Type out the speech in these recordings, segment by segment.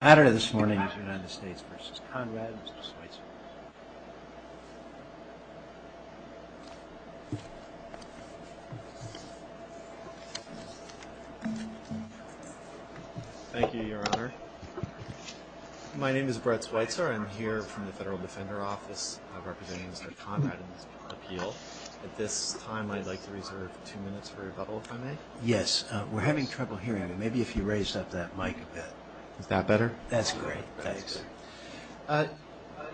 The matter this morning is the United States v. Konrad and Mr. Schweitzer. Thank you, Your Honor. My name is Brett Schweitzer. I'm here from the Federal Defender Office representing Mr. Konrad in this appeal. At this time, I'd like to reserve two minutes for rebuttal, if I may. Yes, we're having trouble hearing you. Maybe if you raised up that mic a bit. Is that better? That's great. Thanks.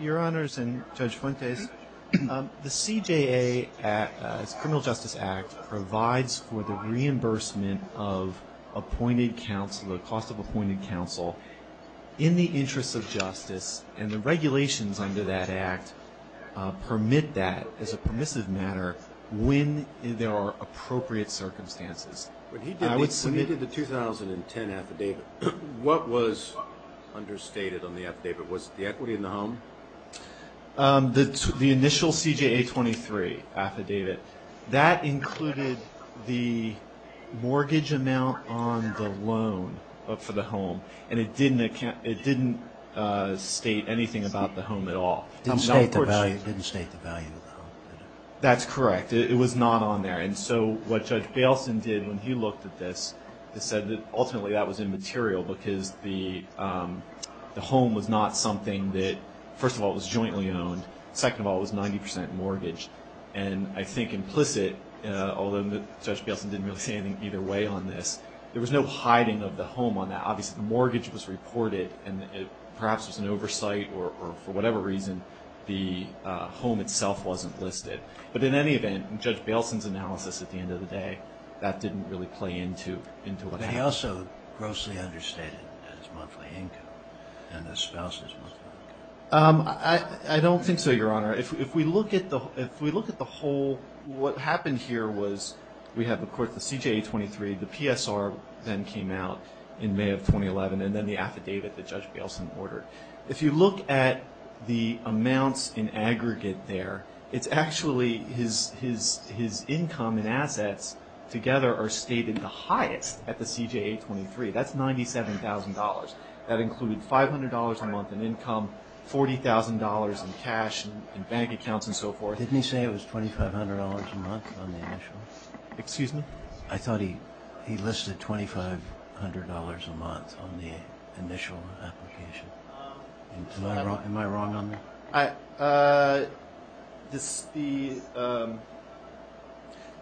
Your Honors and Judge Fuentes, the CJA's Criminal Justice Act provides for the reimbursement of appointed counsel, the cost of appointed counsel, in the interest of justice. And the regulations under that act permit that as a permissive matter when there are appropriate circumstances. When he did the 2010 affidavit, what was understated on the affidavit? Was it the equity in the home? The initial CJA 23 affidavit, that included the mortgage amount on the loan for the home. And it didn't state anything about the home at all. It didn't state the value of the home. That's correct. It was not on there. And so what Judge Bailson did when he looked at this is said that ultimately that was immaterial because the home was not something that, first of all, it was jointly owned. Second of all, it was 90 percent mortgage. And I think implicit, although Judge Bailson didn't really say anything either way on this, there was no hiding of the home on that. Obviously, the mortgage was reported and perhaps it was an oversight or for whatever reason the home itself wasn't listed. But in any event, in Judge Bailson's analysis at the end of the day, that didn't really play into what happened. But he also grossly understated his monthly income and his spouse's monthly income. I don't think so, Your Honor. If we look at the whole, what happened here was we have, of course, the CJA 23, the PSR then came out in May of 2011, and then the affidavit that Judge Bailson ordered. If you look at the amounts in aggregate there, it's actually his income and assets together are stated the highest at the CJA 23. That's $97,000. That included $500 a month in income, $40,000 in cash and bank accounts and so forth. Didn't he say it was $2,500 a month on the initial? Excuse me? I thought he listed $2,500 a month on the initial application. Am I wrong on that?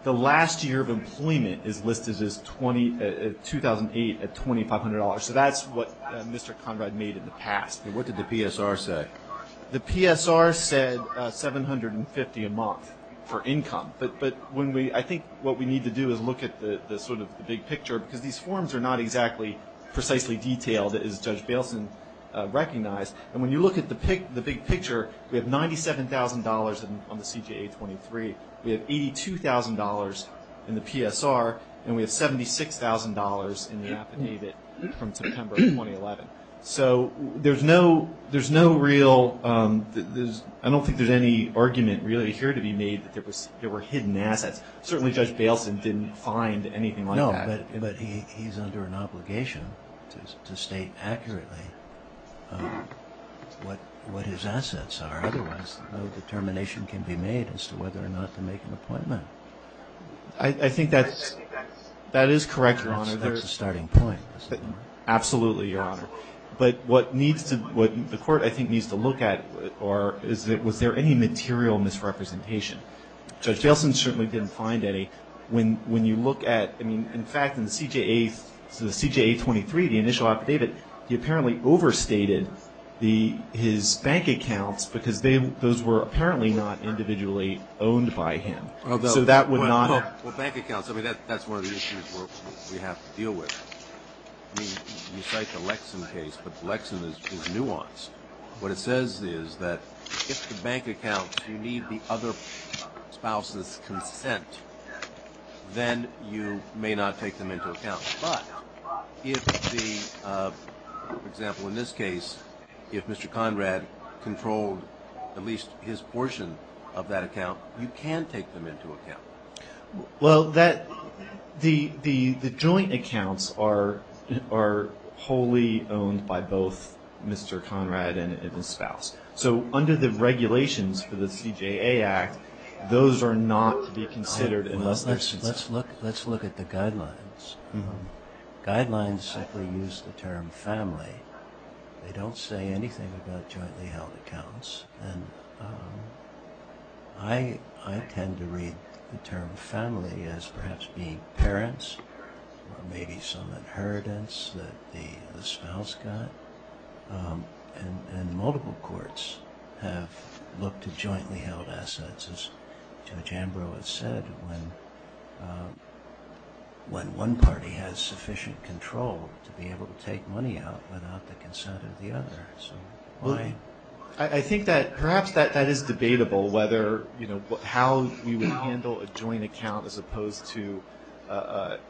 The last year of employment is listed as 2008 at $2,500. So that's what Mr. Conrad made in the past. What did the PSR say? The PSR said $750 a month for income. I think what we need to do is look at the big picture because these forms are not exactly precisely detailed as Judge Bailson recognized. When you look at the big picture, we have $97,000 on the CJA 23. We have $82,000 in the PSR, and we have $76,000 in the affidavit from September of 2011. So there's no real – I don't think there's any argument really here to be made that there were hidden assets. Certainly Judge Bailson didn't find anything like that. No, but he's under an obligation to state accurately what his assets are. Otherwise, no determination can be made as to whether or not to make an appointment. I think that is correct, Your Honor. That's a starting point. Absolutely, Your Honor. But what the court, I think, needs to look at is was there any material misrepresentation. Judge Bailson certainly didn't find any. When you look at – I mean, in fact, in the CJA 23, the initial affidavit, he apparently overstated his bank accounts because those were apparently not individually owned by him. Well, bank accounts, I mean, that's one of the issues we have to deal with. I mean, you cite the Lexham case, but Lexham is nuanced. What it says is that if the bank accounts you need the other spouse's consent, then you may not take them into account. But if the – for example, in this case, if Mr. Conrad controlled at least his portion of that account, you can take them into account. Well, that – the joint accounts are wholly owned by both Mr. Conrad and his spouse. So under the regulations for the CJA Act, those are not to be considered unless there's consent. Let's look at the guidelines. Guidelines simply use the term family. They don't say anything about jointly held accounts. And I tend to read the term family as perhaps being parents or maybe some inheritance that the spouse got. And multiple courts have looked at jointly held assets, as Judge Ambrose said, when one party has sufficient control to be able to take money out without the consent of the other. I think that perhaps that is debatable whether – how we would handle a joint account as opposed to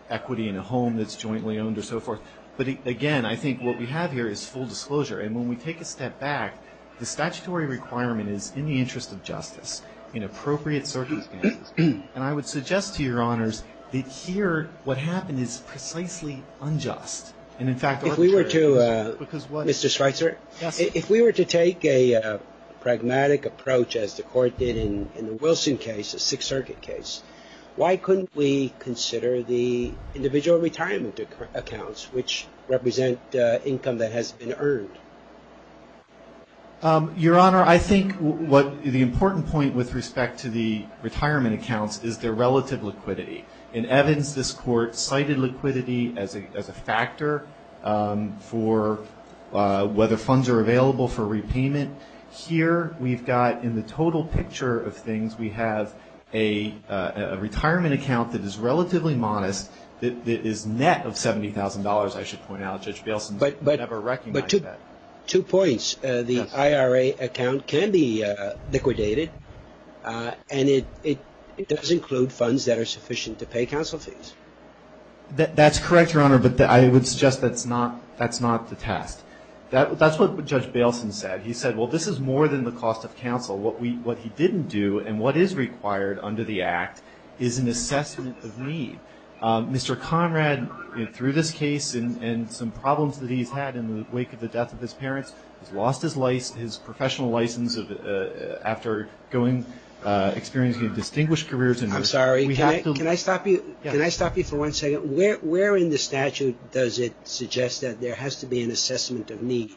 equity in a home that's jointly owned or so forth. But, again, I think what we have here is full disclosure. And when we take a step back, the statutory requirement is in the interest of justice in appropriate circumstances. And I would suggest to Your Honors that here what happened is precisely unjust. If we were to – Mr. Schweitzer? Yes. If we were to take a pragmatic approach as the Court did in the Wilson case, the Sixth Circuit case, why couldn't we consider the individual retirement accounts which represent income that has been earned? Your Honor, I think what the important point with respect to the retirement accounts is their relative liquidity. In Evans, this Court cited liquidity as a factor for whether funds are available for repayment. Here we've got in the total picture of things we have a retirement account that is relatively modest, that is net of $70,000, I should point out. Judge Bailson would never recognize that. Two points. The IRA account can be liquidated, and it does include funds that are sufficient to pay counsel fees. That's correct, Your Honor, but I would suggest that's not the test. That's what Judge Bailson said. He said, well, this is more than the cost of counsel. What he didn't do and what is required under the Act is an assessment of need. Mr. Conrad, through this case and some problems that he's had in the wake of the death of his parents, has lost his professional license after experiencing distinguished careers. I'm sorry. Can I stop you for one second? Where in the statute does it suggest that there has to be an assessment of need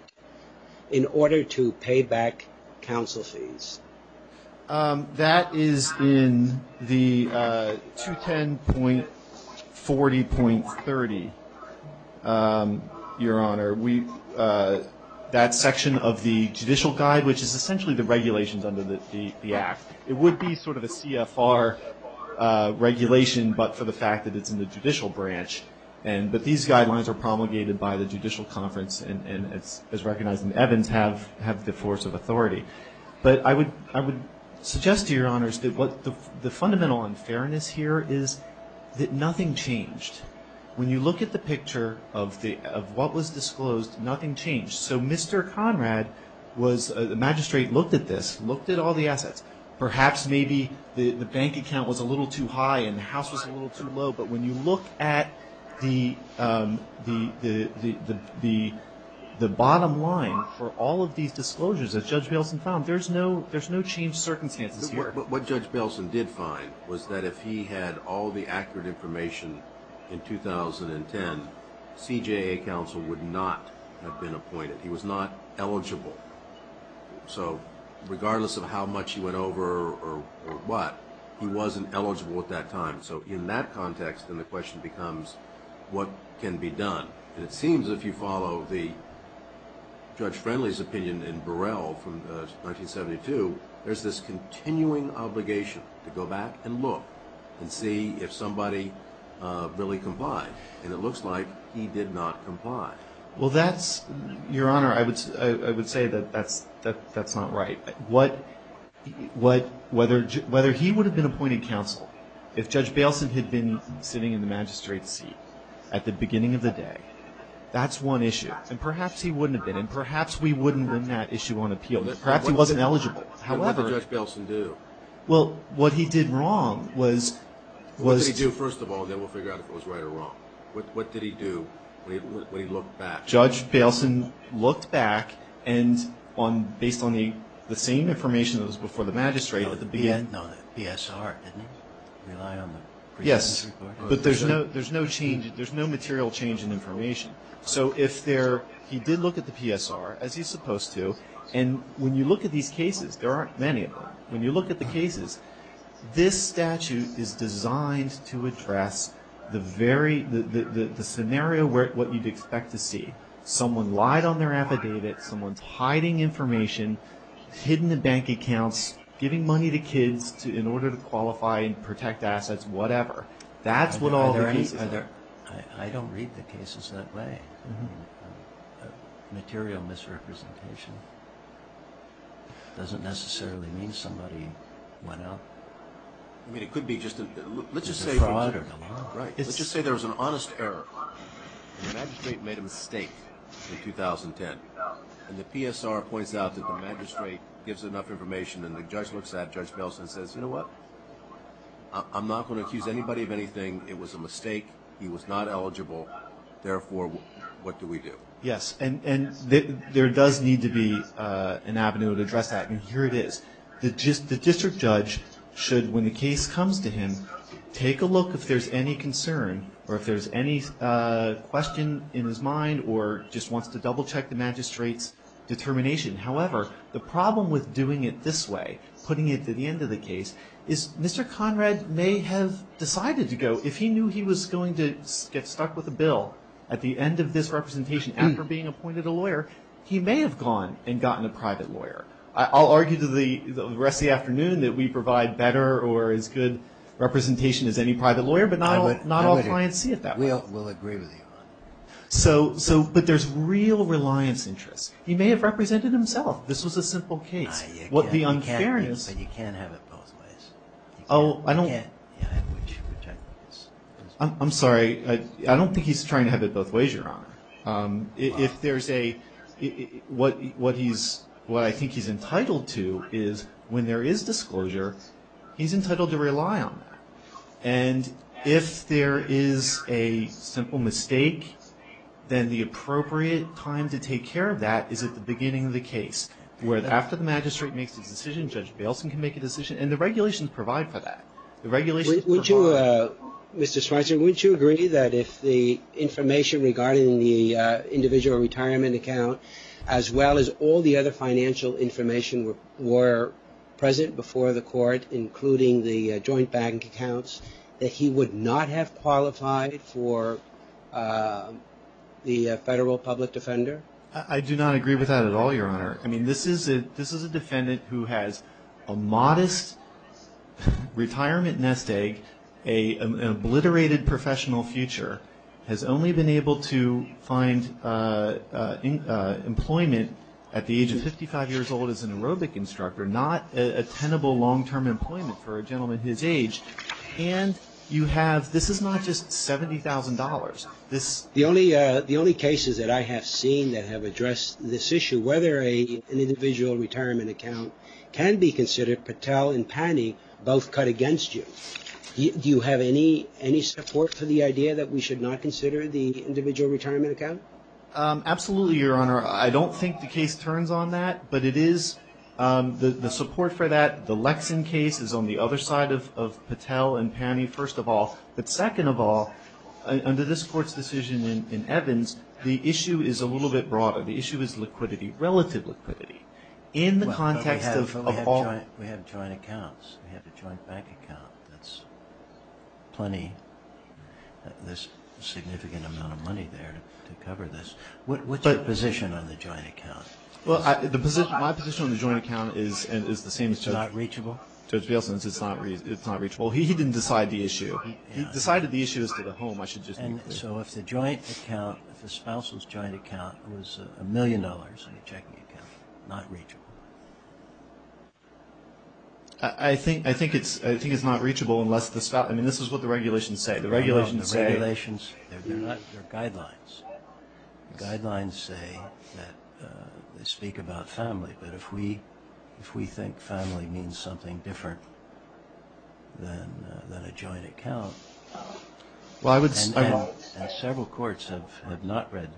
in order to pay back counsel fees? That is in the 210.40.30, Your Honor. That section of the judicial guide, which is essentially the regulations under the Act. It would be sort of a CFR regulation, but for the fact that it's in the judicial branch. But these guidelines are promulgated by the Judicial Conference, and as recognized in Evans, have the force of authority. But I would suggest to Your Honors that the fundamental unfairness here is that nothing changed. When you look at the picture of what was disclosed, nothing changed. So Mr. Conrad was a magistrate, looked at this, looked at all the assets. Perhaps maybe the bank account was a little too high and the house was a little too low. But when you look at the bottom line for all of these disclosures that Judge Bailson found, there's no changed circumstances here. But what Judge Bailson did find was that if he had all the accurate information in 2010, CJA counsel would not have been appointed. He was not eligible. So regardless of how much he went over or what, he wasn't eligible at that time. So in that context, then the question becomes, what can be done? And it seems if you follow the Judge Friendly's opinion in Burrell from 1972, there's this continuing obligation to go back and look and see if somebody really complied. And it looks like he did not comply. Well, that's, Your Honor, I would say that that's not right. Whether he would have been appointed counsel if Judge Bailson had been sitting in the magistrate's seat at the beginning of the day, that's one issue. And perhaps he wouldn't have been. And perhaps we wouldn't win that issue on appeal. Perhaps he wasn't eligible. What did Judge Bailson do? Well, what he did wrong was to – What did he do, first of all, and then we'll figure out if it was right or wrong. What did he do when he looked back? And based on the same information that was before the magistrate at the beginning. No, the PSR didn't rely on the previous report. Yes, but there's no change. There's no material change in information. So if there – he did look at the PSR, as he's supposed to. And when you look at these cases, there aren't many of them. When you look at the cases, this statute is designed to address the scenario, what you'd expect to see. Someone lied on their affidavit. Someone's hiding information, hidden in bank accounts, giving money to kids in order to qualify and protect assets, whatever. That's what all the cases are. I don't read the cases that way. Material misrepresentation doesn't necessarily mean somebody went out. I mean, it could be just – let's just say there was an honest error. The magistrate made a mistake in 2010, and the PSR points out that the magistrate gives enough information, and the judge looks at Judge Belson and says, you know what? I'm not going to accuse anybody of anything. It was a mistake. He was not eligible. Therefore, what do we do? Yes, and there does need to be an avenue to address that, and here it is. The district judge should, when the case comes to him, take a look if there's any concern or if there's any question in his mind or just wants to double-check the magistrate's determination. However, the problem with doing it this way, putting it to the end of the case, is Mr. Conrad may have decided to go. If he knew he was going to get stuck with a bill at the end of this representation after being appointed a lawyer, he may have gone and gotten a private lawyer. I'll argue to the rest of the afternoon that we provide better or as good representation as any private lawyer, but not all clients see it that way. We'll agree with you on that. But there's real reliance interest. He may have represented himself. This was a simple case. You can't have it both ways. I'm sorry. I don't think he's trying to have it both ways, Your Honor. What I think he's entitled to is when there is disclosure, he's entitled to rely on that. And if there is a simple mistake, then the appropriate time to take care of that is at the beginning of the case, where after the magistrate makes a decision, Judge Bailson can make a decision, and the regulations provide for that. Would you, Mr. Schweitzer, would you agree that if the information regarding the individual retirement account, as well as all the other financial information were present before the court, including the joint bank accounts, that he would not have qualified for the federal public defender? I do not agree with that at all, Your Honor. I mean, this is a defendant who has a modest retirement nest egg, an obliterated professional future, has only been able to find employment at the age of 55 years old as an aerobic instructor, not a tenable long-term employment for a gentleman his age. And you have, this is not just $70,000. The only cases that I have seen that have addressed this issue, whether an individual retirement account can be considered, Patel and Panny both cut against you. Do you have any support for the idea that we should not consider the individual retirement account? Absolutely, Your Honor. I don't think the case turns on that, but it is, the support for that, the Lexan case is on the other side of Patel and Panny, first of all. But second of all, under this Court's decision in Evans, the issue is a little bit broader. The issue is liquidity, relative liquidity. We have joint accounts. We have a joint bank account. There's a significant amount of money there to cover this. What's your position on the joint account? My position on the joint account is the same as Judge Bielson's. It's not reachable? Judge Bielson's, it's not reachable. He didn't decide the issue. He decided the issue is to the home, I should just be clear. So if the joint account, if the spousal's joint account was a million dollars in a checking account, not reachable? I think it's not reachable unless the spouse, I mean, this is what the regulations say. The regulations say... The regulations, they're not, they're guidelines. The guidelines say that they speak about family, but if we think family means something different than a joint account... Well, I would say... And several courts have not read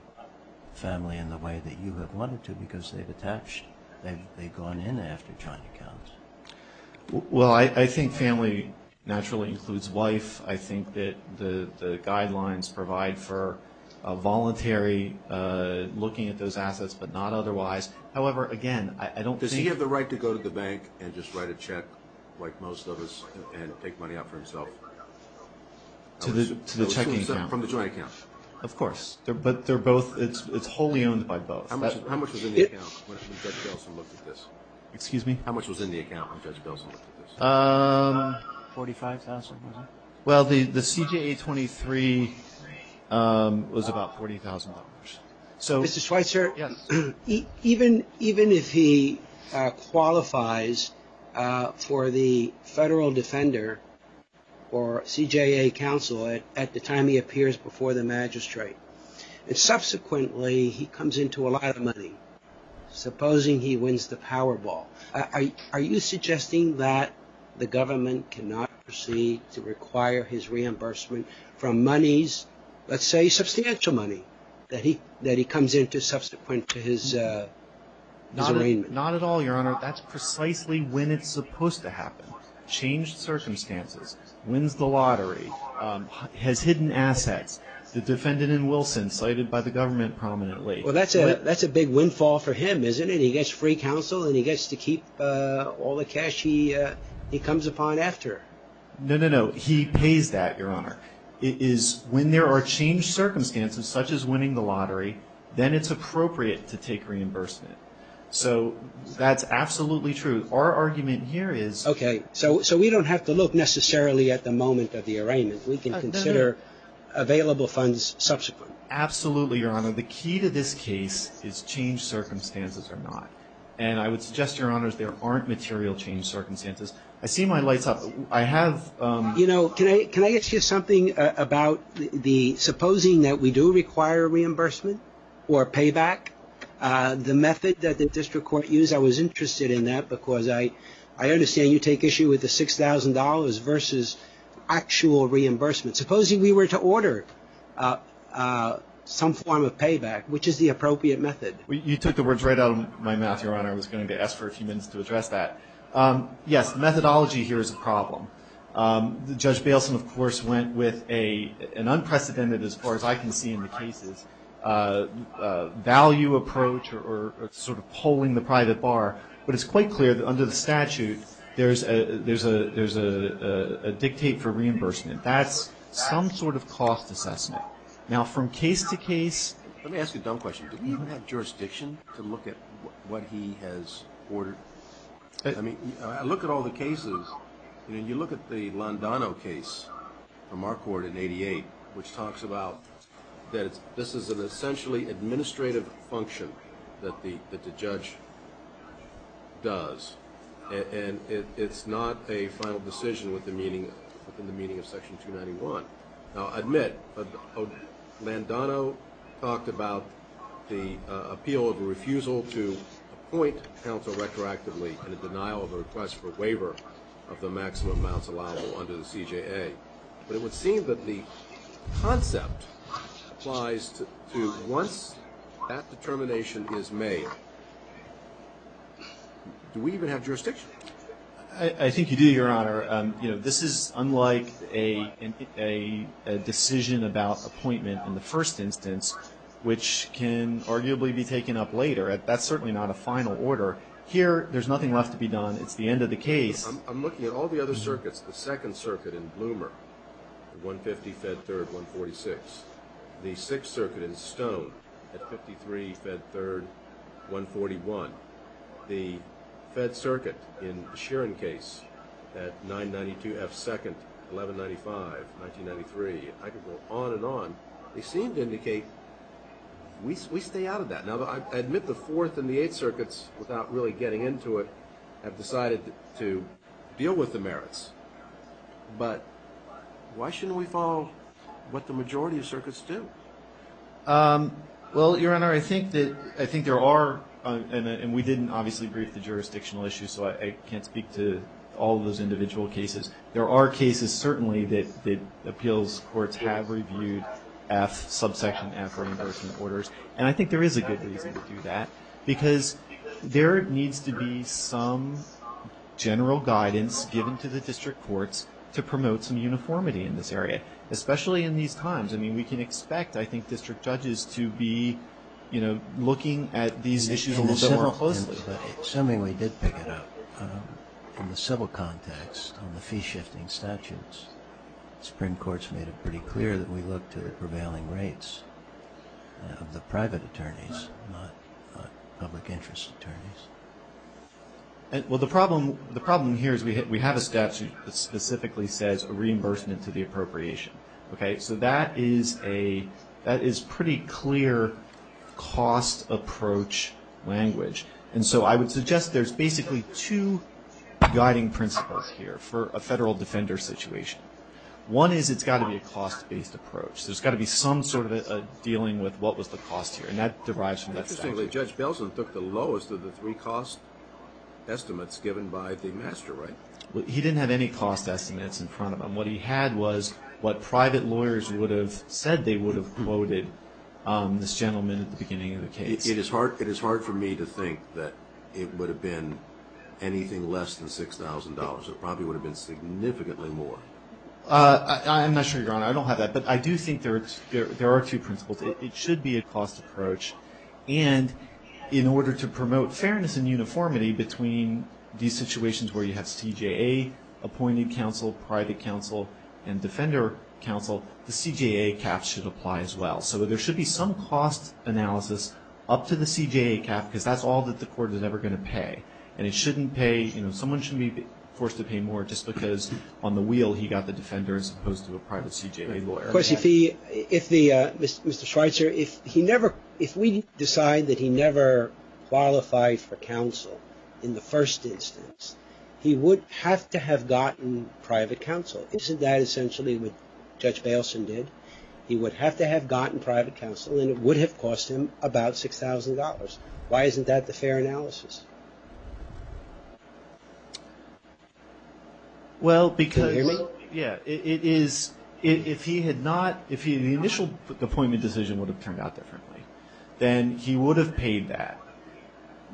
family in the way that you have wanted to because they've attached, they've gone in after joint accounts. Well, I think family naturally includes wife. I think that the guidelines provide for a voluntary looking at those assets but not otherwise. However, again, I don't think... Does he have the right to go to the bank and just write a check like most of us and take money out for himself? To the checking account. From the joint account. Of course. But they're both, it's wholly owned by both. How much was in the account when Judge Belson looked at this? Excuse me? How much was in the account when Judge Belson looked at this? $45,000? Well, the CJA 23 was about $40,000. Mr. Schweitzer, even if he qualifies for the federal defender or CJA counsel at the time he appears before the magistrate and subsequently he comes into a lot of money, supposing he wins the Powerball, are you suggesting that the government cannot proceed to require his reimbursement from monies, let's say substantial money that he comes into subsequent to his arraignment? Not at all, Your Honor. That's precisely when it's supposed to happen. Changed circumstances. Wins the lottery. Has hidden assets. The defendant in Wilson cited by the government prominently. Well, that's a big windfall for him, isn't it? That he gets free counsel and he gets to keep all the cash he comes upon after. No, no, no. He pays that, Your Honor. It is when there are changed circumstances, such as winning the lottery, then it's appropriate to take reimbursement. So that's absolutely true. Our argument here is... Okay. So we don't have to look necessarily at the moment of the arraignment. We can consider available funds subsequent. Absolutely, Your Honor. The key to this case is changed circumstances or not. And I would suggest, Your Honors, there aren't material changed circumstances. I see my lights up. I have... You know, can I ask you something about the supposing that we do require reimbursement or payback, the method that the district court used? I was interested in that because I understand you take issue with the $6,000 versus actual reimbursement. Supposing we were to order some form of payback, which is the appropriate method? You took the words right out of my mouth, Your Honor. I was going to ask for a few minutes to address that. Yes, methodology here is a problem. Judge Bailson, of course, went with an unprecedented, as far as I can see in the cases, value approach or sort of pulling the private bar. But it's quite clear that under the statute, there's a dictate for reimbursement. That's some sort of cost assessment. Now, from case to case... Let me ask you a dumb question. Do you even have jurisdiction to look at what he has ordered? I mean, look at all the cases. You know, you look at the Londano case from our court in 88, which talks about that this is an essentially administrative function that the judge does. And it's not a final decision within the meaning of Section 291. Now, admit, Londano talked about the appeal of a refusal to appoint counsel retroactively and a denial of a request for waiver of the maximum amounts allowable under the CJA. But it would seem that the concept applies to once that determination is made, do we even have jurisdiction? I think you do, Your Honor. You know, this is unlike a decision about appointment in the first instance, which can arguably be taken up later. That's certainly not a final order. Here, there's nothing left to be done. It's the end of the case. I'm looking at all the other circuits. The 2nd Circuit in Bloomer, 150, Fed 3rd, 146. The 6th Circuit in Stone at 53, Fed 3rd, 141. The Fed Circuit in the Sheeran case at 992 F 2nd, 1195, 1993. I could go on and on. They seem to indicate we stay out of that. Now, I admit the 4th and the 8th Circuits, without really getting into it, have decided to deal with the merits. But why shouldn't we follow what the majority of circuits do? Well, Your Honor, I think there are, and we didn't obviously brief the jurisdictional issues, so I can't speak to all of those individual cases. There are cases, certainly, that appeals courts have reviewed F, subsection F, for reimbursement orders. And I think there is a good reason to do that, because there needs to be some general guidance given to the district courts to promote some uniformity in this area, especially in these times. I mean, we can expect, I think, district judges to be, you know, looking at these issues a little bit more closely. Assuming we did pick it up, in the civil context, on the fee-shifting statutes, the Supreme Court's made it pretty clear that we looked at prevailing rates of the private attorneys, not public interest attorneys. Well, the problem here is we have a statute that specifically says a reimbursement to the appropriation. Okay? So that is a pretty clear cost approach language. And so I would suggest there's basically two guiding principles here for a federal defender situation. One is it's got to be a cost-based approach. There's got to be some sort of dealing with what was the cost here, and that derives from that statute. Interestingly, Judge Belson took the lowest of the three cost estimates given by the master right. He didn't have any cost estimates in front of him. What he had was what private lawyers would have said they would have quoted this gentleman at the beginning of the case. It is hard for me to think that it would have been anything less than $6,000. It probably would have been significantly more. I'm not sure, Your Honor. I don't have that. But I do think there are two principles. It should be a cost approach. And in order to promote fairness and uniformity between these situations where you have CJA, appointed counsel, private counsel, and defender counsel, the CJA caps should apply as well. So there should be some cost analysis up to the CJA cap because that's all that the court is ever going to pay. And it shouldn't pay, you know, someone should be forced to pay more just because on the wheel he got the defender as opposed to a private CJA lawyer. Of course, if he, if the, Mr. Schweitzer, if he never, if we decide that he never qualified for counsel in the first instance, he would have to have gotten private counsel. Isn't that essentially what Judge Belson did? He would have to have gotten private counsel and it would have cost him about $6,000. Why isn't that the fair analysis? Well, because. Can you hear me? Yeah. It is, if he had not, if the initial appointment decision would have turned out differently, then he would have paid that.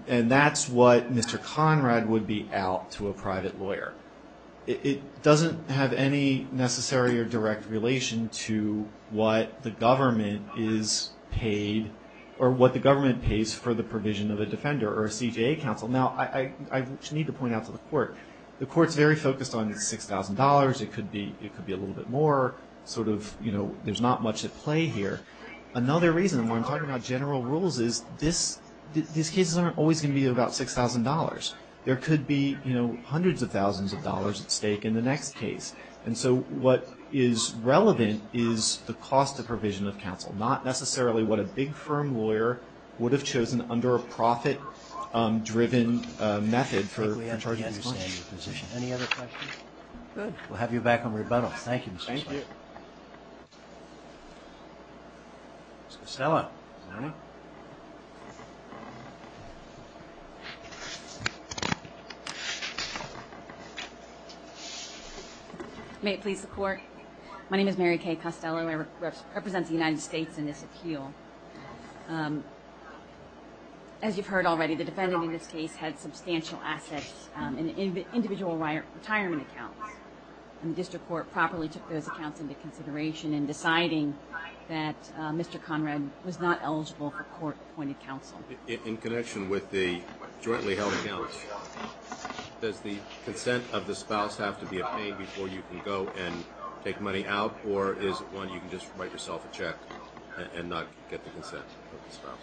And that's what Mr. Conrad would be out to a private lawyer. It doesn't have any necessary or direct relation to what the government is paid, or what the government pays for the provision of a defender or a CJA counsel. Now, I need to point out to the court, the court's very focused on $6,000. It could be a little bit more, sort of, you know, there's not much at play here. Another reason why I'm talking about general rules is this, these cases aren't always going to be about $6,000. There could be, you know, hundreds of thousands of dollars at stake in the next case. And so, what is relevant is the cost of provision of counsel, not necessarily what a big firm lawyer would have chosen under a profit-driven method for charging. Any other questions? Good. We'll have you back on rebuttal. Thank you. Thank you. Ms. Costello, is that you? May it please the Court? My name is Mary Kay Costello. I represent the United States in this appeal. As you've heard already, the defendant in this case had substantial assets in individual retirement accounts. And the district court properly took those accounts into consideration in deciding that Mr. Conrad was not eligible for court-appointed counsel. In connection with the jointly held accounts, does the consent of the spouse have to be obtained before you can go and take money out, or is it one you can just write yourself a check and not get the consent of the spouse?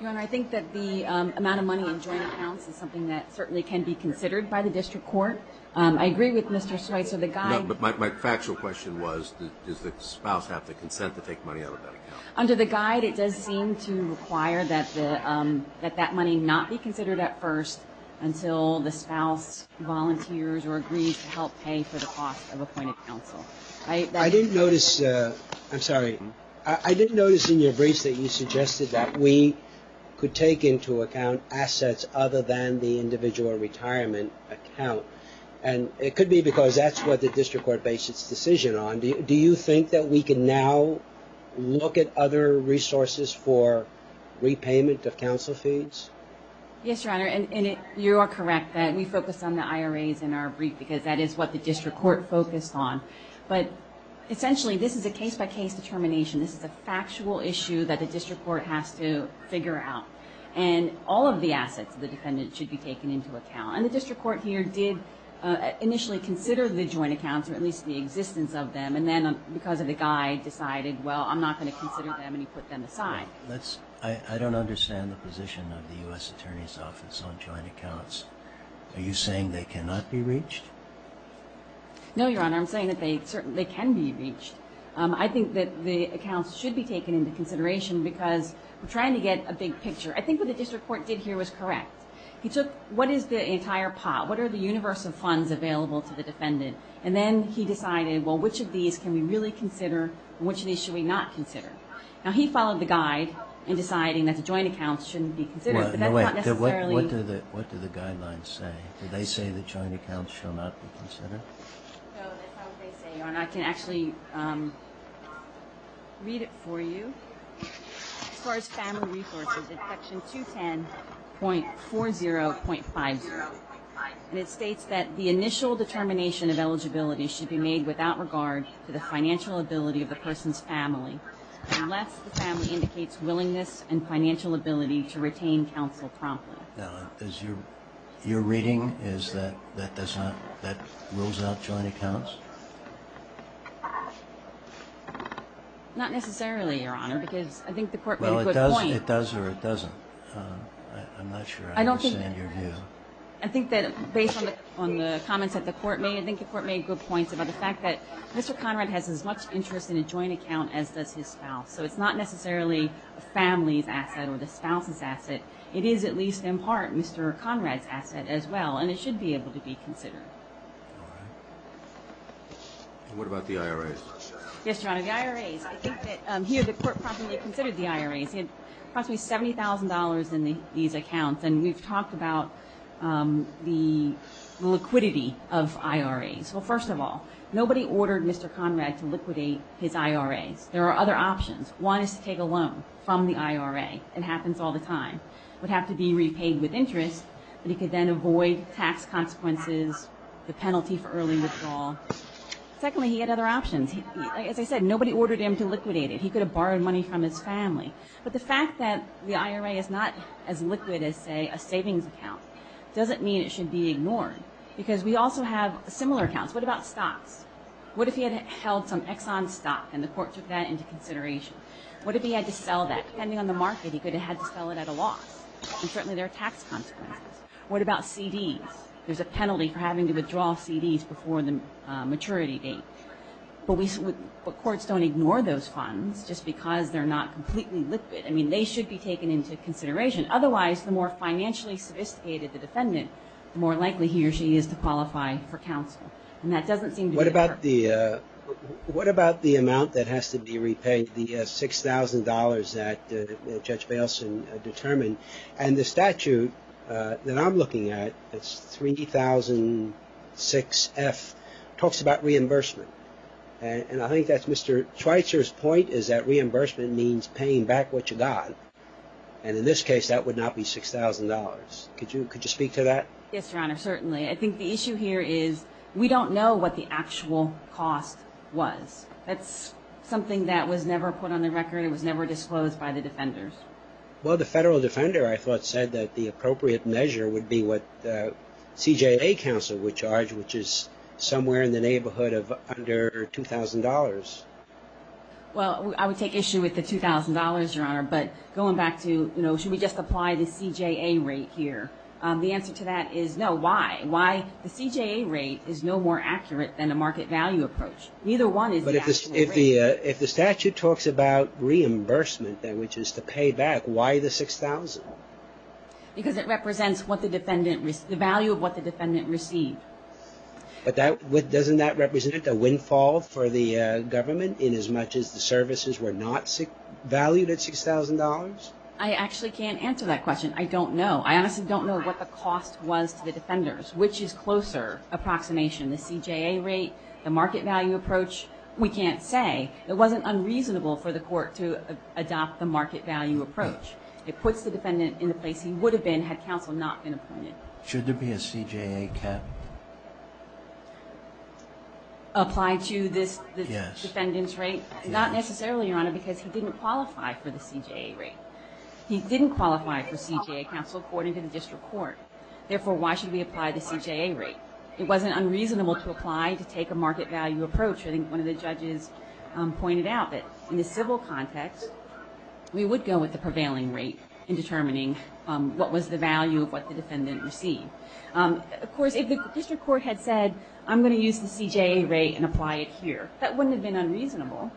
Your Honor, I think that the amount of money in joint accounts is something that certainly can be considered by the district court. I agree with Mr. Schweitzer. But my factual question was, does the spouse have to consent to take money out of that account? Under the guide, it does seem to require that that money not be considered at first until the spouse volunteers or agrees to help pay for the cost of appointed counsel. I didn't notice in your briefs that you suggested that we could take into account assets other than the individual retirement account. And it could be because that's what the district court based its decision on. Do you think that we can now look at other resources for repayment of counsel fees? Yes, Your Honor, and you are correct that we focused on the IRAs in our brief because that is what the district court focused on. But essentially, this is a case-by-case determination. This is a factual issue that the district court has to figure out. And all of the assets of the defendant should be taken into account. And the district court here did initially consider the joint accounts, or at least the existence of them, and then because of the guide decided, well, I'm not going to consider them, and he put them aside. I don't understand the position of the U.S. Attorney's Office on joint accounts. Are you saying they cannot be reached? No, Your Honor, I'm saying that they certainly can be reached. I think that the accounts should be taken into consideration because we're trying to get a big picture. I think what the district court did here was correct. He took what is the entire pot, what are the universal funds available to the defendant, and then he decided, well, which of these can we really consider and which of these should we not consider. Now, he followed the guide in deciding that the joint accounts shouldn't be considered, but that's not necessarily. What do the guidelines say? Do they say the joint accounts shall not be considered? No, that's not what they say, Your Honor. I can actually read it for you. As far as family resources, it's section 210.40.50, and it states that the initial determination of eligibility should be made without regard to the financial ability of the person's family unless the family indicates willingness and financial ability to retain counsel promptly. Now, is your reading is that that does not, that rules out joint accounts? Not necessarily, Your Honor, because I think the court made a good point. Well, it does or it doesn't. I'm not sure I understand your view. I think that based on the comments that the court made, I think the court made good points about the fact that Mr. Conrad has as much interest in a joint account as does his spouse, so it's not necessarily a family's asset or the spouse's asset. It is at least in part Mr. Conrad's asset as well, and it should be able to be considered. All right. And what about the IRAs? Yes, Your Honor, the IRAs. I think that here the court properly considered the IRAs. He had approximately $70,000 in these accounts, and we've talked about the liquidity of IRAs. Well, first of all, nobody ordered Mr. Conrad to liquidate his IRAs. There are other options. One is to take a loan from the IRA. It happens all the time. It would have to be repaid with interest, and he could then avoid tax consequences, the penalty for early withdrawal. Secondly, he had other options. As I said, nobody ordered him to liquidate it. He could have borrowed money from his family. But the fact that the IRA is not as liquid as, say, a savings account doesn't mean it should be ignored because we also have similar accounts. What about stocks? What if he had held some Exxon stock and the court took that into consideration? What if he had to sell that? Depending on the market, he could have had to sell it at a loss, and certainly there are tax consequences. What about CDs? There's a penalty for having to withdraw CDs before the maturity date. But courts don't ignore those funds just because they're not completely liquid. I mean, they should be taken into consideration. Otherwise, the more financially sophisticated the defendant, the more likely he or she is to qualify for counsel. What about the amount that has to be repaid, the $6,000 that Judge Bailson determined? And the statute that I'm looking at, it's 3006F, talks about reimbursement. And I think that's Mr. Schweitzer's point, is that reimbursement means paying back what you got. And in this case, that would not be $6,000. Could you speak to that? Yes, Your Honor, certainly. I think the issue here is we don't know what the actual cost was. That's something that was never put on the record. It was never disclosed by the defenders. Well, the federal defender, I thought, said that the appropriate measure would be what the CJA counsel would charge, which is somewhere in the neighborhood of under $2,000. Well, I would take issue with the $2,000, Your Honor. But going back to, you know, should we just apply the CJA rate here? The answer to that is no. Why? Why? The CJA rate is no more accurate than a market value approach. Neither one is the actual rate. But if the statute talks about reimbursement, which is to pay back, why the $6,000? Because it represents the value of what the defendant received. But doesn't that represent a windfall for the government in as much as the services were not valued at $6,000? I actually can't answer that question. I don't know. I honestly don't know what the cost was to the defenders, which is closer approximation. The CJA rate, the market value approach, we can't say. It wasn't unreasonable for the court to adopt the market value approach. It puts the defendant in the place he would have been had counsel not been appointed. Should there be a CJA cap? Apply to this defendant's rate? Yes. Not necessarily, Your Honor, because he didn't qualify for the CJA rate. He didn't qualify for CJA counsel according to the district court. Therefore, why should we apply the CJA rate? It wasn't unreasonable to apply to take a market value approach. I think one of the judges pointed out that in the civil context, we would go with the prevailing rate in determining what was the value of what the defendant received. Of course, if the district court had said, I'm going to use the CJA rate and apply it here, that wouldn't have been unreasonable.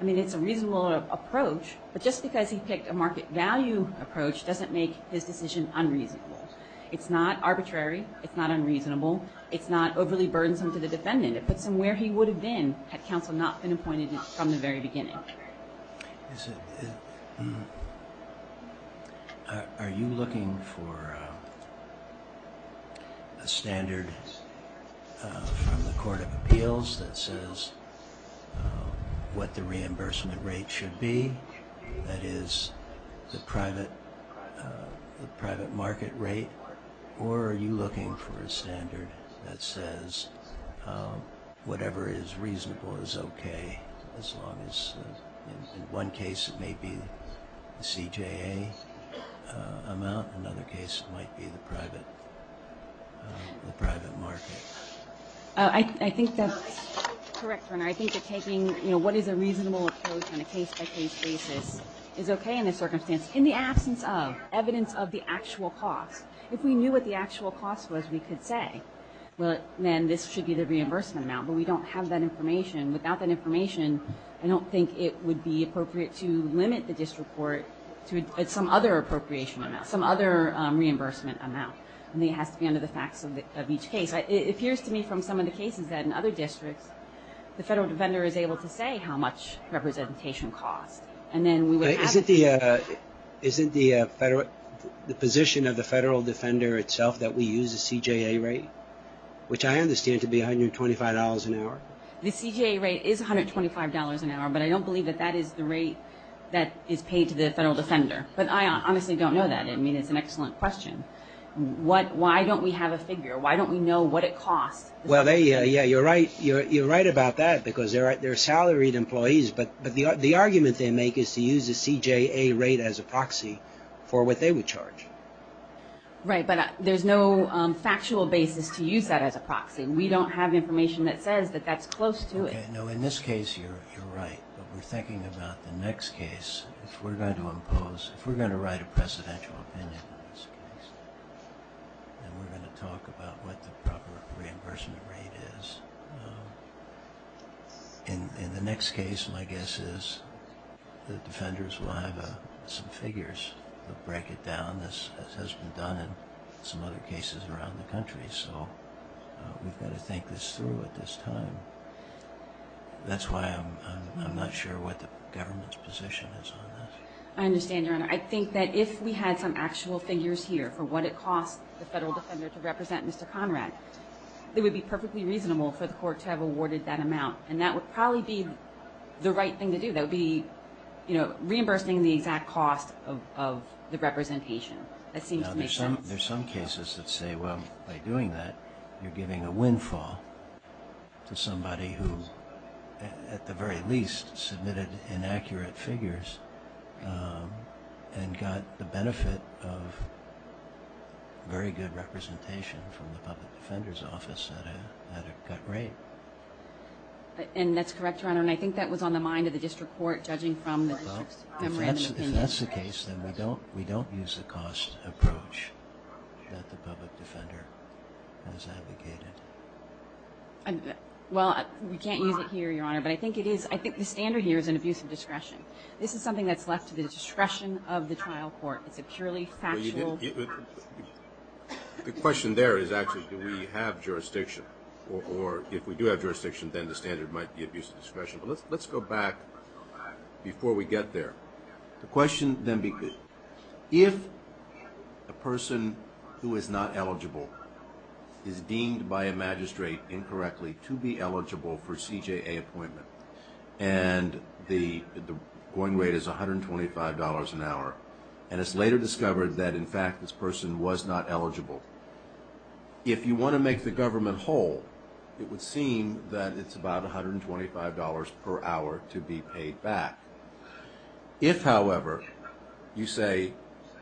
I mean, it's a reasonable approach. But just because he picked a market value approach doesn't make his decision unreasonable. It's not arbitrary. It's not unreasonable. It's not overly burdensome to the defendant. It puts him where he would have been had counsel not been appointed from the very beginning. Are you looking for a standard from the court of appeals that says what the reimbursement rate should be, that is, the private market rate? Or are you looking for a standard that says whatever is reasonable is okay as long as, in one case, it may be the CJA amount. In another case, it might be the private market. I think that's correct, Your Honor. I think that taking, you know, what is a reasonable approach on a case-by-case basis is okay in this circumstance. It's in the absence of evidence of the actual cost. If we knew what the actual cost was, we could say, well, then this should be the reimbursement amount. But we don't have that information. Without that information, I don't think it would be appropriate to limit the district court to some other appropriation amount, some other reimbursement amount. I mean, it has to be under the facts of each case. It appears to me from some of the cases that in other districts, the federal defender is able to say how much representation costs. Isn't the position of the federal defender itself that we use a CJA rate, which I understand to be $125 an hour? The CJA rate is $125 an hour, but I don't believe that that is the rate that is paid to the federal defender. But I honestly don't know that. I mean, it's an excellent question. Why don't we have a figure? Why don't we know what it costs? Well, yeah, you're right. You're right about that because they're salaried employees, but the argument they make is to use the CJA rate as a proxy for what they would charge. Right, but there's no factual basis to use that as a proxy. We don't have information that says that that's close to it. No, in this case, you're right, but we're thinking about the next case. If we're going to impose, if we're going to write a presidential opinion in this case, and we're going to talk about what the proper reimbursement rate is, in the next case, my guess is the defenders will have some figures that break it down, as has been done in some other cases around the country. So we've got to think this through at this time. That's why I'm not sure what the government's position is on this. I understand, Your Honor. I think that if we had some actual figures here for what it costs the federal defender to represent Mr. Conrad, it would be perfectly reasonable for the court to have awarded that amount, and that would probably be the right thing to do. That would be reimbursing the exact cost of the representation. That seems to make sense. There are some cases that say, well, by doing that, you're giving a windfall to somebody who, at the very least, submitted inaccurate figures and got the benefit of very good representation from the public defender's office at a cut rate. And that's correct, Your Honor, and I think that was on the mind of the district court, judging from the district's memorandum of opinion. If that's the case, then we don't use the cost approach that the public defender has advocated. Well, we can't use it here, Your Honor, but I think the standard here is an abuse of discretion. This is something that's left to the discretion of the trial court. It's a purely factual question. The question there is actually do we have jurisdiction, or if we do have jurisdiction, then the standard might be abuse of discretion. Let's go back before we get there. The question then becomes, if a person who is not eligible is deemed by a magistrate incorrectly to be eligible for CJA appointment, and the going rate is $125 an hour, and it's later discovered that, in fact, this person was not eligible, if you want to make the government whole, it would seem that it's about $125 per hour to be paid back. If, however, you say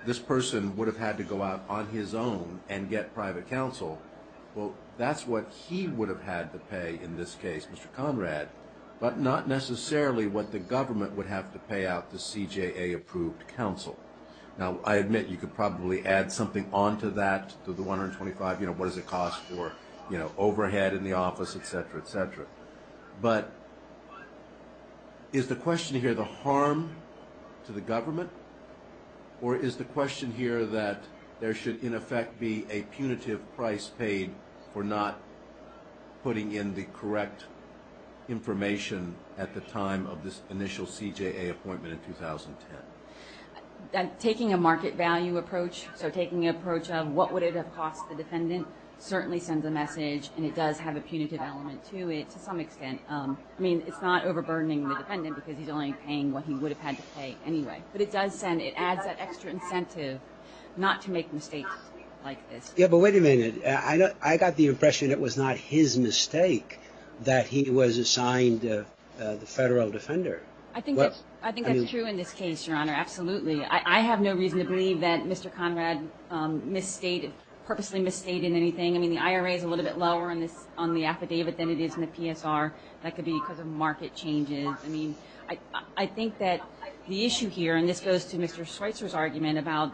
this person would have had to go out on his own and get private counsel, well, that's what he would have had to pay in this case, Mr. Conrad, but not necessarily what the government would have to pay out the CJA-approved counsel. Now, I admit you could probably add something on to that, to the $125. What does it cost for overhead in the office, et cetera, et cetera, but is the question here the harm to the government, or is the question here that there should, in effect, be a punitive price paid for not putting in the correct information at the time of this initial CJA appointment in 2010? Taking a market value approach, so taking an approach of what would it have cost the defendant, certainly sends a message, and it does have a punitive element to it to some extent. I mean, it's not overburdening the defendant because he's only paying what he would have had to pay anyway, but it does send, it adds that extra incentive not to make mistakes like this. Yeah, but wait a minute. I got the impression it was not his mistake that he was assigned the federal defender. I think that's true in this case, Your Honor, absolutely. I have no reason to believe that Mr. Conrad purposely misstated anything. I mean, the IRA is a little bit lower on the affidavit than it is in the PSR. That could be because of market changes. I mean, I think that the issue here, and this goes to Mr. Schweitzer's argument about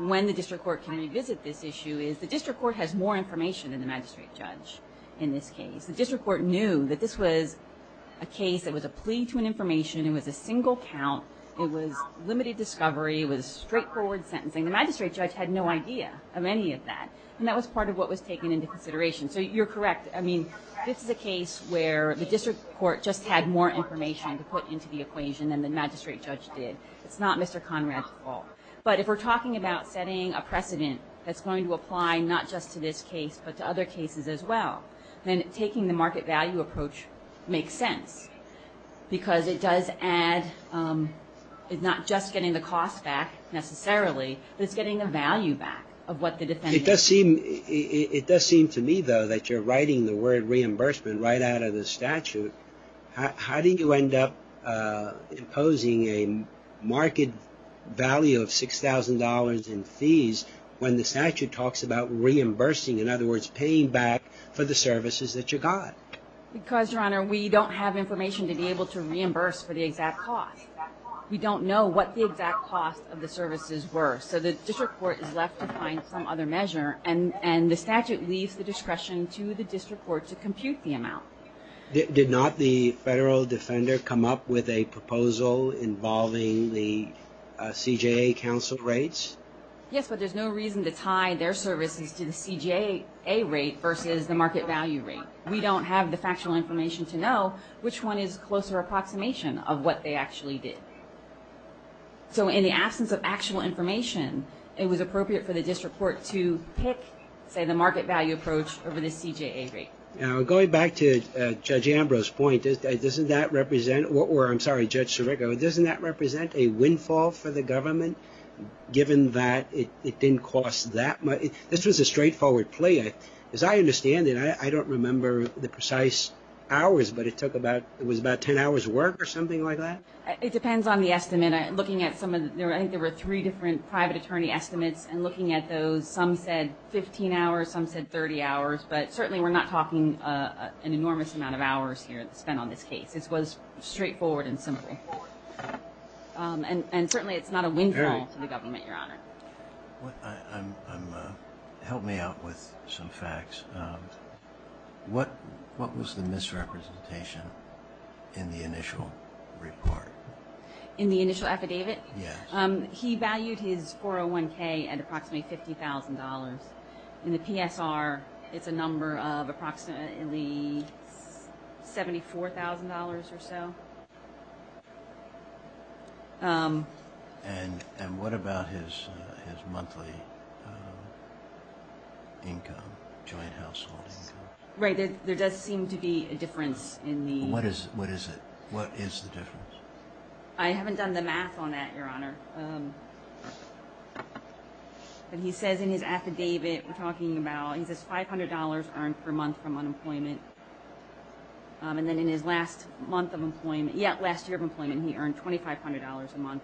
when the district court can revisit this issue, is the district court has more information than the magistrate judge in this case. The district court knew that this was a case that was a plea to an information. It was a single count. It was limited discovery. It was straightforward sentencing. The magistrate judge had no idea of any of that, and that was part of what was taken into consideration. So you're correct. I mean, this is a case where the district court just had more information to put into the equation than the magistrate judge did. It's not Mr. Conrad's fault. But if we're talking about setting a precedent that's going to apply not just to this case, but to other cases as well, then taking the market value approach makes sense, because it does add, it's not just getting the cost back necessarily, but it's getting the value back of what the defendant. It does seem to me, though, that you're writing the word reimbursement right out of the statute. How do you end up imposing a market value of $6,000 in fees when the statute talks about reimbursing, in other words, paying back for the services that you got? Because, Your Honor, we don't have information to be able to reimburse for the exact cost. We don't know what the exact cost of the services were. So the district court is left to find some other measure, and the statute leaves the discretion to the district court to compute the amount. Did not the federal defender come up with a proposal involving the CJA counsel rates? Yes, but there's no reason to tie their services to the CJA rate versus the market value rate. We don't have the factual information to know which one is closer approximation of what they actually did. So in the absence of actual information, it was appropriate for the district court to pick, say, the market value approach over the CJA rate. Now, going back to Judge Ambrose's point, doesn't that represent, or I'm sorry, Judge Sirico, doesn't that represent a windfall for the government, given that it didn't cost that much? This was a straightforward plea. As I understand it, I don't remember the precise hours, but it took about, it was about 10 hours work or something like that? It depends on the estimate. Looking at some of the, I think there were three different private attorney estimates, and looking at those, some said 15 hours, some said 30 hours. But certainly we're not talking an enormous amount of hours here spent on this case. It was straightforward and simple. And certainly it's not a windfall to the government, Your Honor. Help me out with some facts. What was the misrepresentation in the initial report? In the initial affidavit? Yes. He valued his 401K at approximately $50,000. In the PSR, it's a number of approximately $74,000 or so. And what about his monthly income, joint household income? Right. There does seem to be a difference in the… What is it? What is the difference? I haven't done the math on that, Your Honor. But he says in his affidavit, we're talking about, he says $500 earned per month from unemployment. And then in his last month of employment, yeah, last year of employment, he earned $2,500 a month.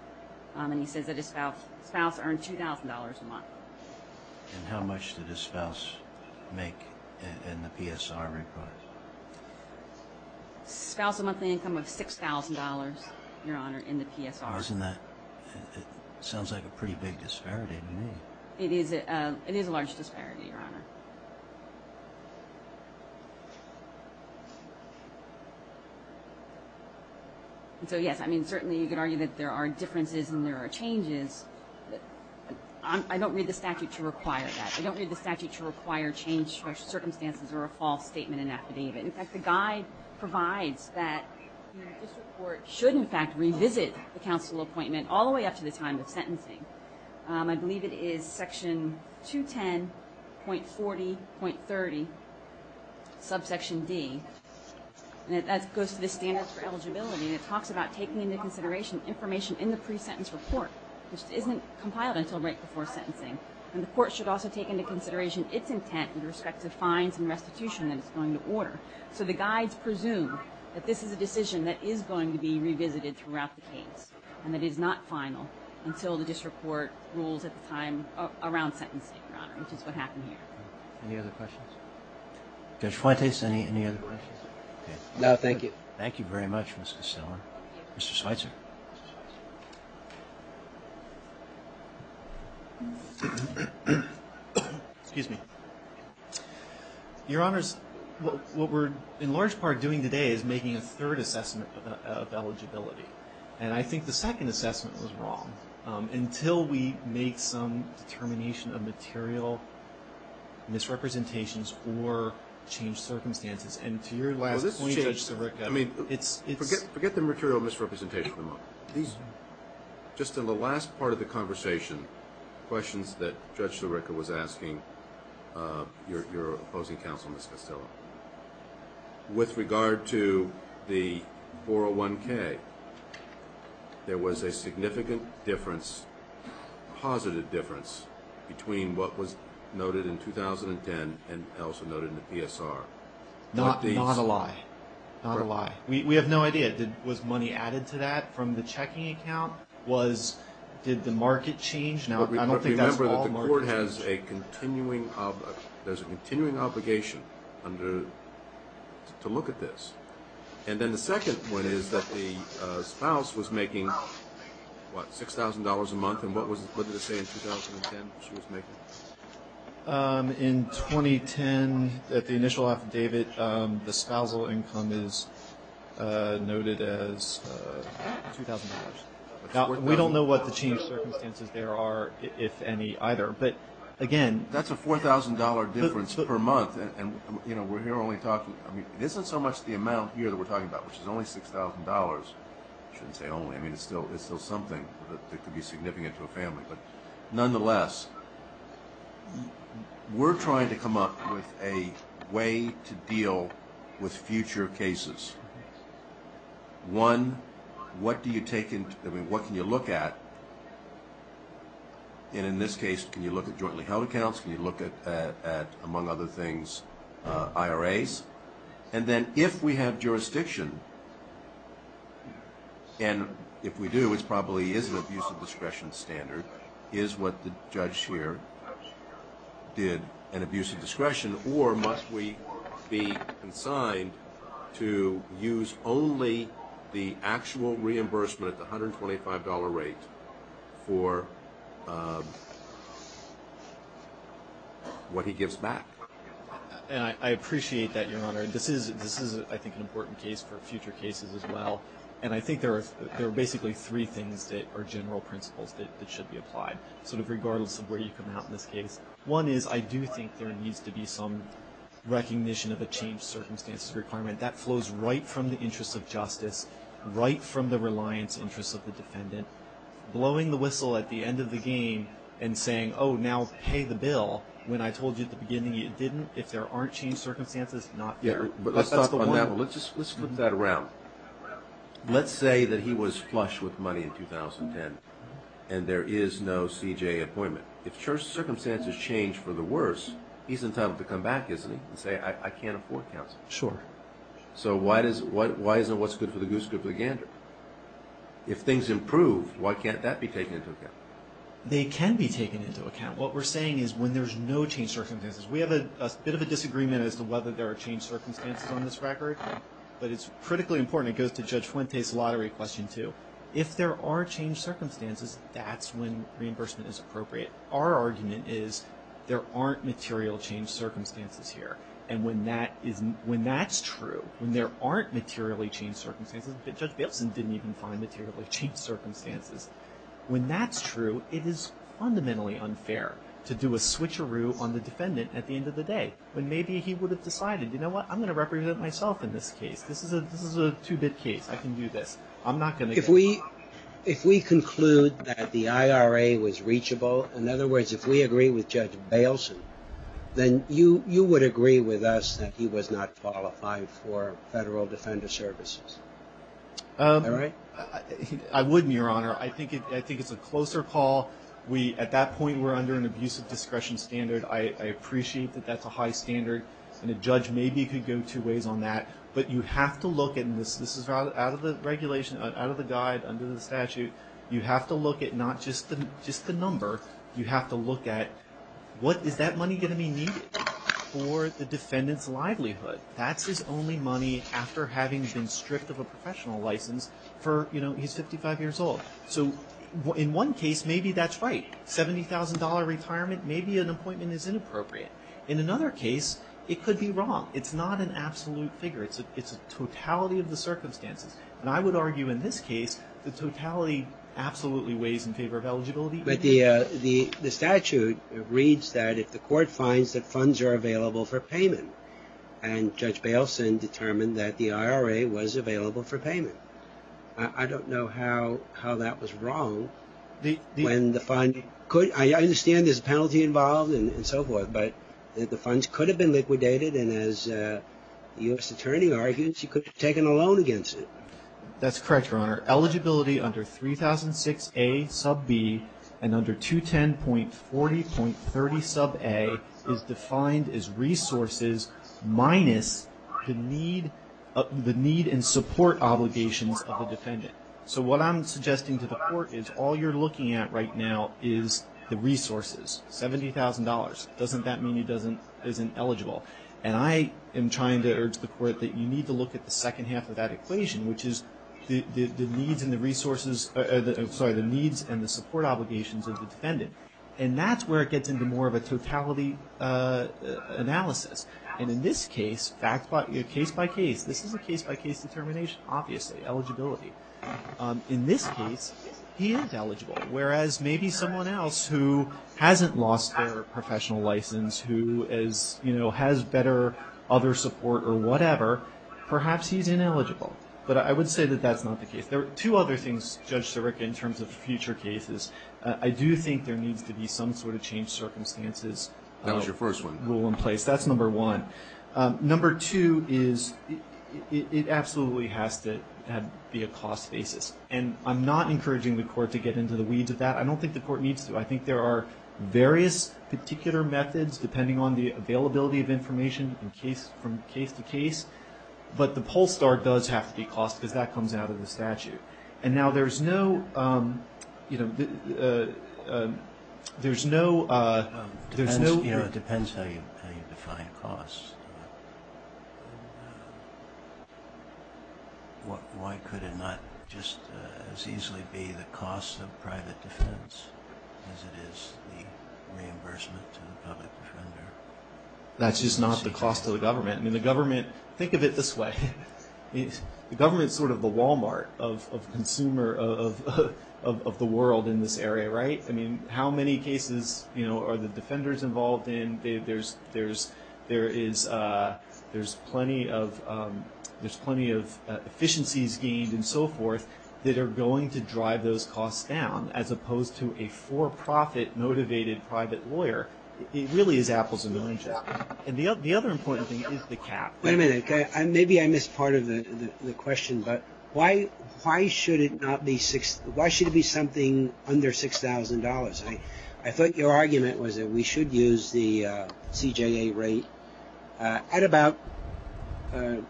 And he says that his spouse earned $2,000 a month. And how much did his spouse make in the PSR report? Spouse had a monthly income of $6,000, Your Honor, in the PSR. And that sounds like a pretty big disparity to me. It is a large disparity, Your Honor. So, yes, I mean, certainly you could argue that there are differences and there are changes. I don't read the statute to require that. I don't read the statute to require changed circumstances or a false statement in an affidavit. In fact, the guide provides that the district court should, in fact, revisit the counsel appointment all the way up to the time of sentencing. I believe it is section 210.40.30, subsection D. And that goes to the standards for eligibility. And it talks about taking into consideration information in the pre-sentence report, which isn't compiled until right before sentencing. And the court should also take into consideration its intent with respect to fines and restitution that it's going to order. So the guides presume that this is a decision that is going to be revisited throughout the case and that it is not final until the district court rules at the time around sentencing, Your Honor, which is what happened here. Any other questions? Judge Fuentes, any other questions? No, thank you. Thank you very much, Ms. Costello. Mr. Schweitzer. Excuse me. Your Honors, what we're in large part doing today is making a third assessment of eligibility. And I think the second assessment was wrong. Until we make some determination of material misrepresentations or change circumstances, and to your last point, Judge Sirica, it's ‑‑ Forget the material misrepresentation. Just in the last part of the conversation, questions that Judge Sirica was asking your opposing counsel, Ms. Costello, with regard to the 401K, there was a significant difference, a positive difference between what was noted in 2010 and also noted in the PSR. Not a lie. Not a lie. We have no idea. Was money added to that from the checking account? Did the market change? Now, I don't think that's all market change. But remember that the court has a continuing obligation to look at this. And then the second point is that the spouse was making, what, $6,000 a month, and what did it say in 2010 she was making? In 2010, at the initial affidavit, the spousal income is noted as $2,000. We don't know what the change circumstances there are, if any, either. But, again ‑‑ That's a $4,000 difference per month. And, you know, we're here only talking ‑‑ I mean, it isn't so much the amount here that we're talking about, which is only $6,000. I shouldn't say only. I mean, it's still something that could be significant to a family. But, nonetheless, we're trying to come up with a way to deal with future cases. One, what can you look at? And in this case, can you look at jointly held accounts? Can you look at, among other things, IRAs? And then if we have jurisdiction, and if we do, it probably is an abuse of discretion standard, is what the judge here did an abuse of discretion? Or must we be consigned to use only the actual reimbursement at the $125 rate for what he gives back? And I appreciate that, Your Honor. This is, I think, an important case for future cases as well. And I think there are basically three things that are general principles that should be applied, sort of regardless of where you come out in this case. One is I do think there needs to be some recognition of a changed circumstances requirement. That flows right from the interests of justice, right from the reliance interests of the defendant. Blowing the whistle at the end of the game and saying, oh, now pay the bill, when I told you at the beginning you didn't, if there aren't changed circumstances, not fair. Let's flip that around. Let's say that he was flush with money in 2010 and there is no CJA appointment. If circumstances change for the worse, he's entitled to come back, isn't he, and say, I can't afford counsel. Sure. So why isn't what's good for the goose good for the gander? If things improve, why can't that be taken into account? They can be taken into account. What we're saying is when there's no changed circumstances, we have a bit of a disagreement as to whether there are changed circumstances on this record, but it's critically important. It goes to Judge Fuentes' lottery question too. If there are changed circumstances, that's when reimbursement is appropriate. Our argument is there aren't material changed circumstances here, and when that's true, when there aren't materially changed circumstances, Judge Bailison didn't even find materially changed circumstances, when that's true, it is fundamentally unfair to do a switcheroo on the defendant at the end of the day, when maybe he would have decided, you know what, I'm going to represent myself in this case. This is a two-bit case. I can do this. I'm not going to get caught. If we conclude that the IRA was reachable, in other words, if we agree with Judge Bailison, then you would agree with us that he was not qualified for federal defender services, right? I would, Your Honor. I think it's a closer call. At that point, we're under an abusive discretion standard. I appreciate that that's a high standard, and a judge maybe could go two ways on that, but you have to look at this. This is out of the regulation, out of the guide, under the statute. You have to look at not just the number. You have to look at what is that money going to be needed for the defendant's livelihood. That's his only money after having been stripped of a professional license for, you know, he's 55 years old. So in one case, maybe that's right. $70,000 retirement, maybe an appointment is inappropriate. In another case, it could be wrong. It's not an absolute figure. It's a totality of the circumstances. And I would argue in this case the totality absolutely weighs in favor of eligibility. But the statute reads that if the court finds that funds are available for payment, and Judge Bailson determined that the IRA was available for payment. I don't know how that was wrong when the fund could – I understand there's a penalty involved and so forth, but the funds could have been liquidated, and as the U.S. Attorney argues, you could have taken a loan against it. That's correct, Your Honor. Eligibility under 3006A sub B and under 210.40.30 sub A is defined as resources minus the need and support obligations of the defendant. So what I'm suggesting to the court is all you're looking at right now is the resources, $70,000. Doesn't that mean he isn't eligible? And I am trying to urge the court that you need to look at the second half of that equation, which is the needs and the support obligations of the defendant. And that's where it gets into more of a totality analysis. And in this case, case by case, this is a case by case determination, obviously, eligibility. In this case, he is eligible. Whereas maybe someone else who hasn't lost their professional license, who has better other support or whatever, perhaps he's ineligible. But I would say that that's not the case. There are two other things, Judge Sirica, in terms of future cases. I do think there needs to be some sort of change circumstances rule in place. That was your first one. That's number one. Number two is it absolutely has to be a cost basis. And I'm not encouraging the court to get into the weeds of that. I don't think the court needs to. I think there are various particular methods depending on the availability of information from case to case. But the poll start does have to be cost because that comes out of the statute. And now there's no, you know, there's no, there's no. It depends how you define cost. Why could it not just as easily be the cost of private defense as it is the reimbursement to the public defender? That's just not the cost to the government. I mean, the government, think of it this way. The government is sort of the Walmart of consumer of the world in this area, right? I mean, how many cases, you know, are the defenders involved in? I mean, there's plenty of efficiencies gained and so forth that are going to drive those costs down, as opposed to a for-profit motivated private lawyer. It really is apples and oranges. And the other important thing is the cap. Wait a minute. Maybe I missed part of the question. But why should it not be, why should it be something under $6,000? I thought your argument was that we should use the CJA rate at about 10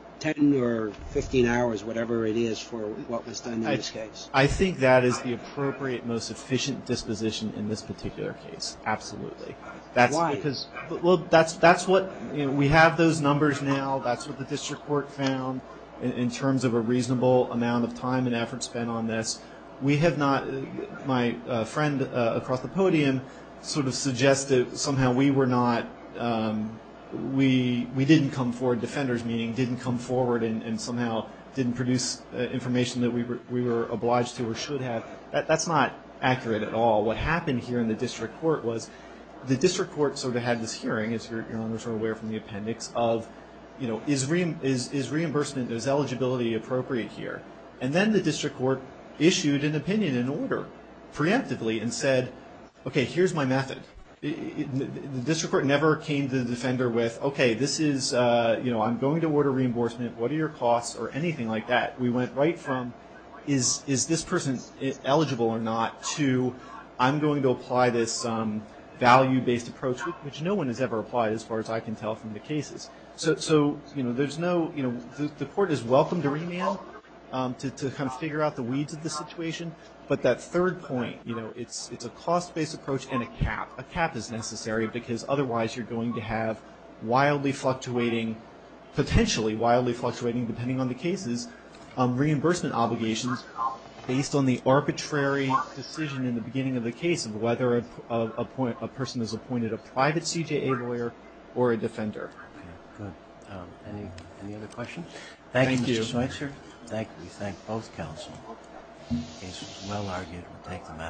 or 15 hours, whatever it is, for what was done in this case. I think that is the appropriate, most efficient disposition in this particular case. Absolutely. Why? Because, well, that's what, you know, we have those numbers now. That's what the district court found in terms of a reasonable amount of time and effort spent on this. We have not, my friend across the podium sort of suggested somehow we were not, we didn't come forward, defenders meaning, didn't come forward and somehow didn't produce information that we were obliged to or should have. That's not accurate at all. What happened here in the district court was the district court sort of had this hearing, as your honors are aware from the appendix, of, you know, is reimbursement, is eligibility appropriate here? And then the district court issued an opinion in order preemptively and said, okay, here's my method. The district court never came to the defender with, okay, this is, you know, I'm going to order reimbursement. What are your costs or anything like that? We went right from is this person eligible or not to I'm going to apply this value-based approach, which no one has ever applied as far as I can tell from the cases. So, you know, there's no, you know, the court is welcome to remand to kind of figure out the weeds of the situation. But that third point, you know, it's a cost-based approach and a cap. A cap is necessary because otherwise you're going to have wildly fluctuating, potentially wildly fluctuating depending on the cases, reimbursement obligations based on the arbitrary decision in the beginning of the case of whether a person is appointed a private CJA lawyer or a defender. Okay. Good. Any other questions? Thank you. Thank you, Mr. Schweitzer. Thank you. We thank both counsel. It's well-argued. We thank the matter.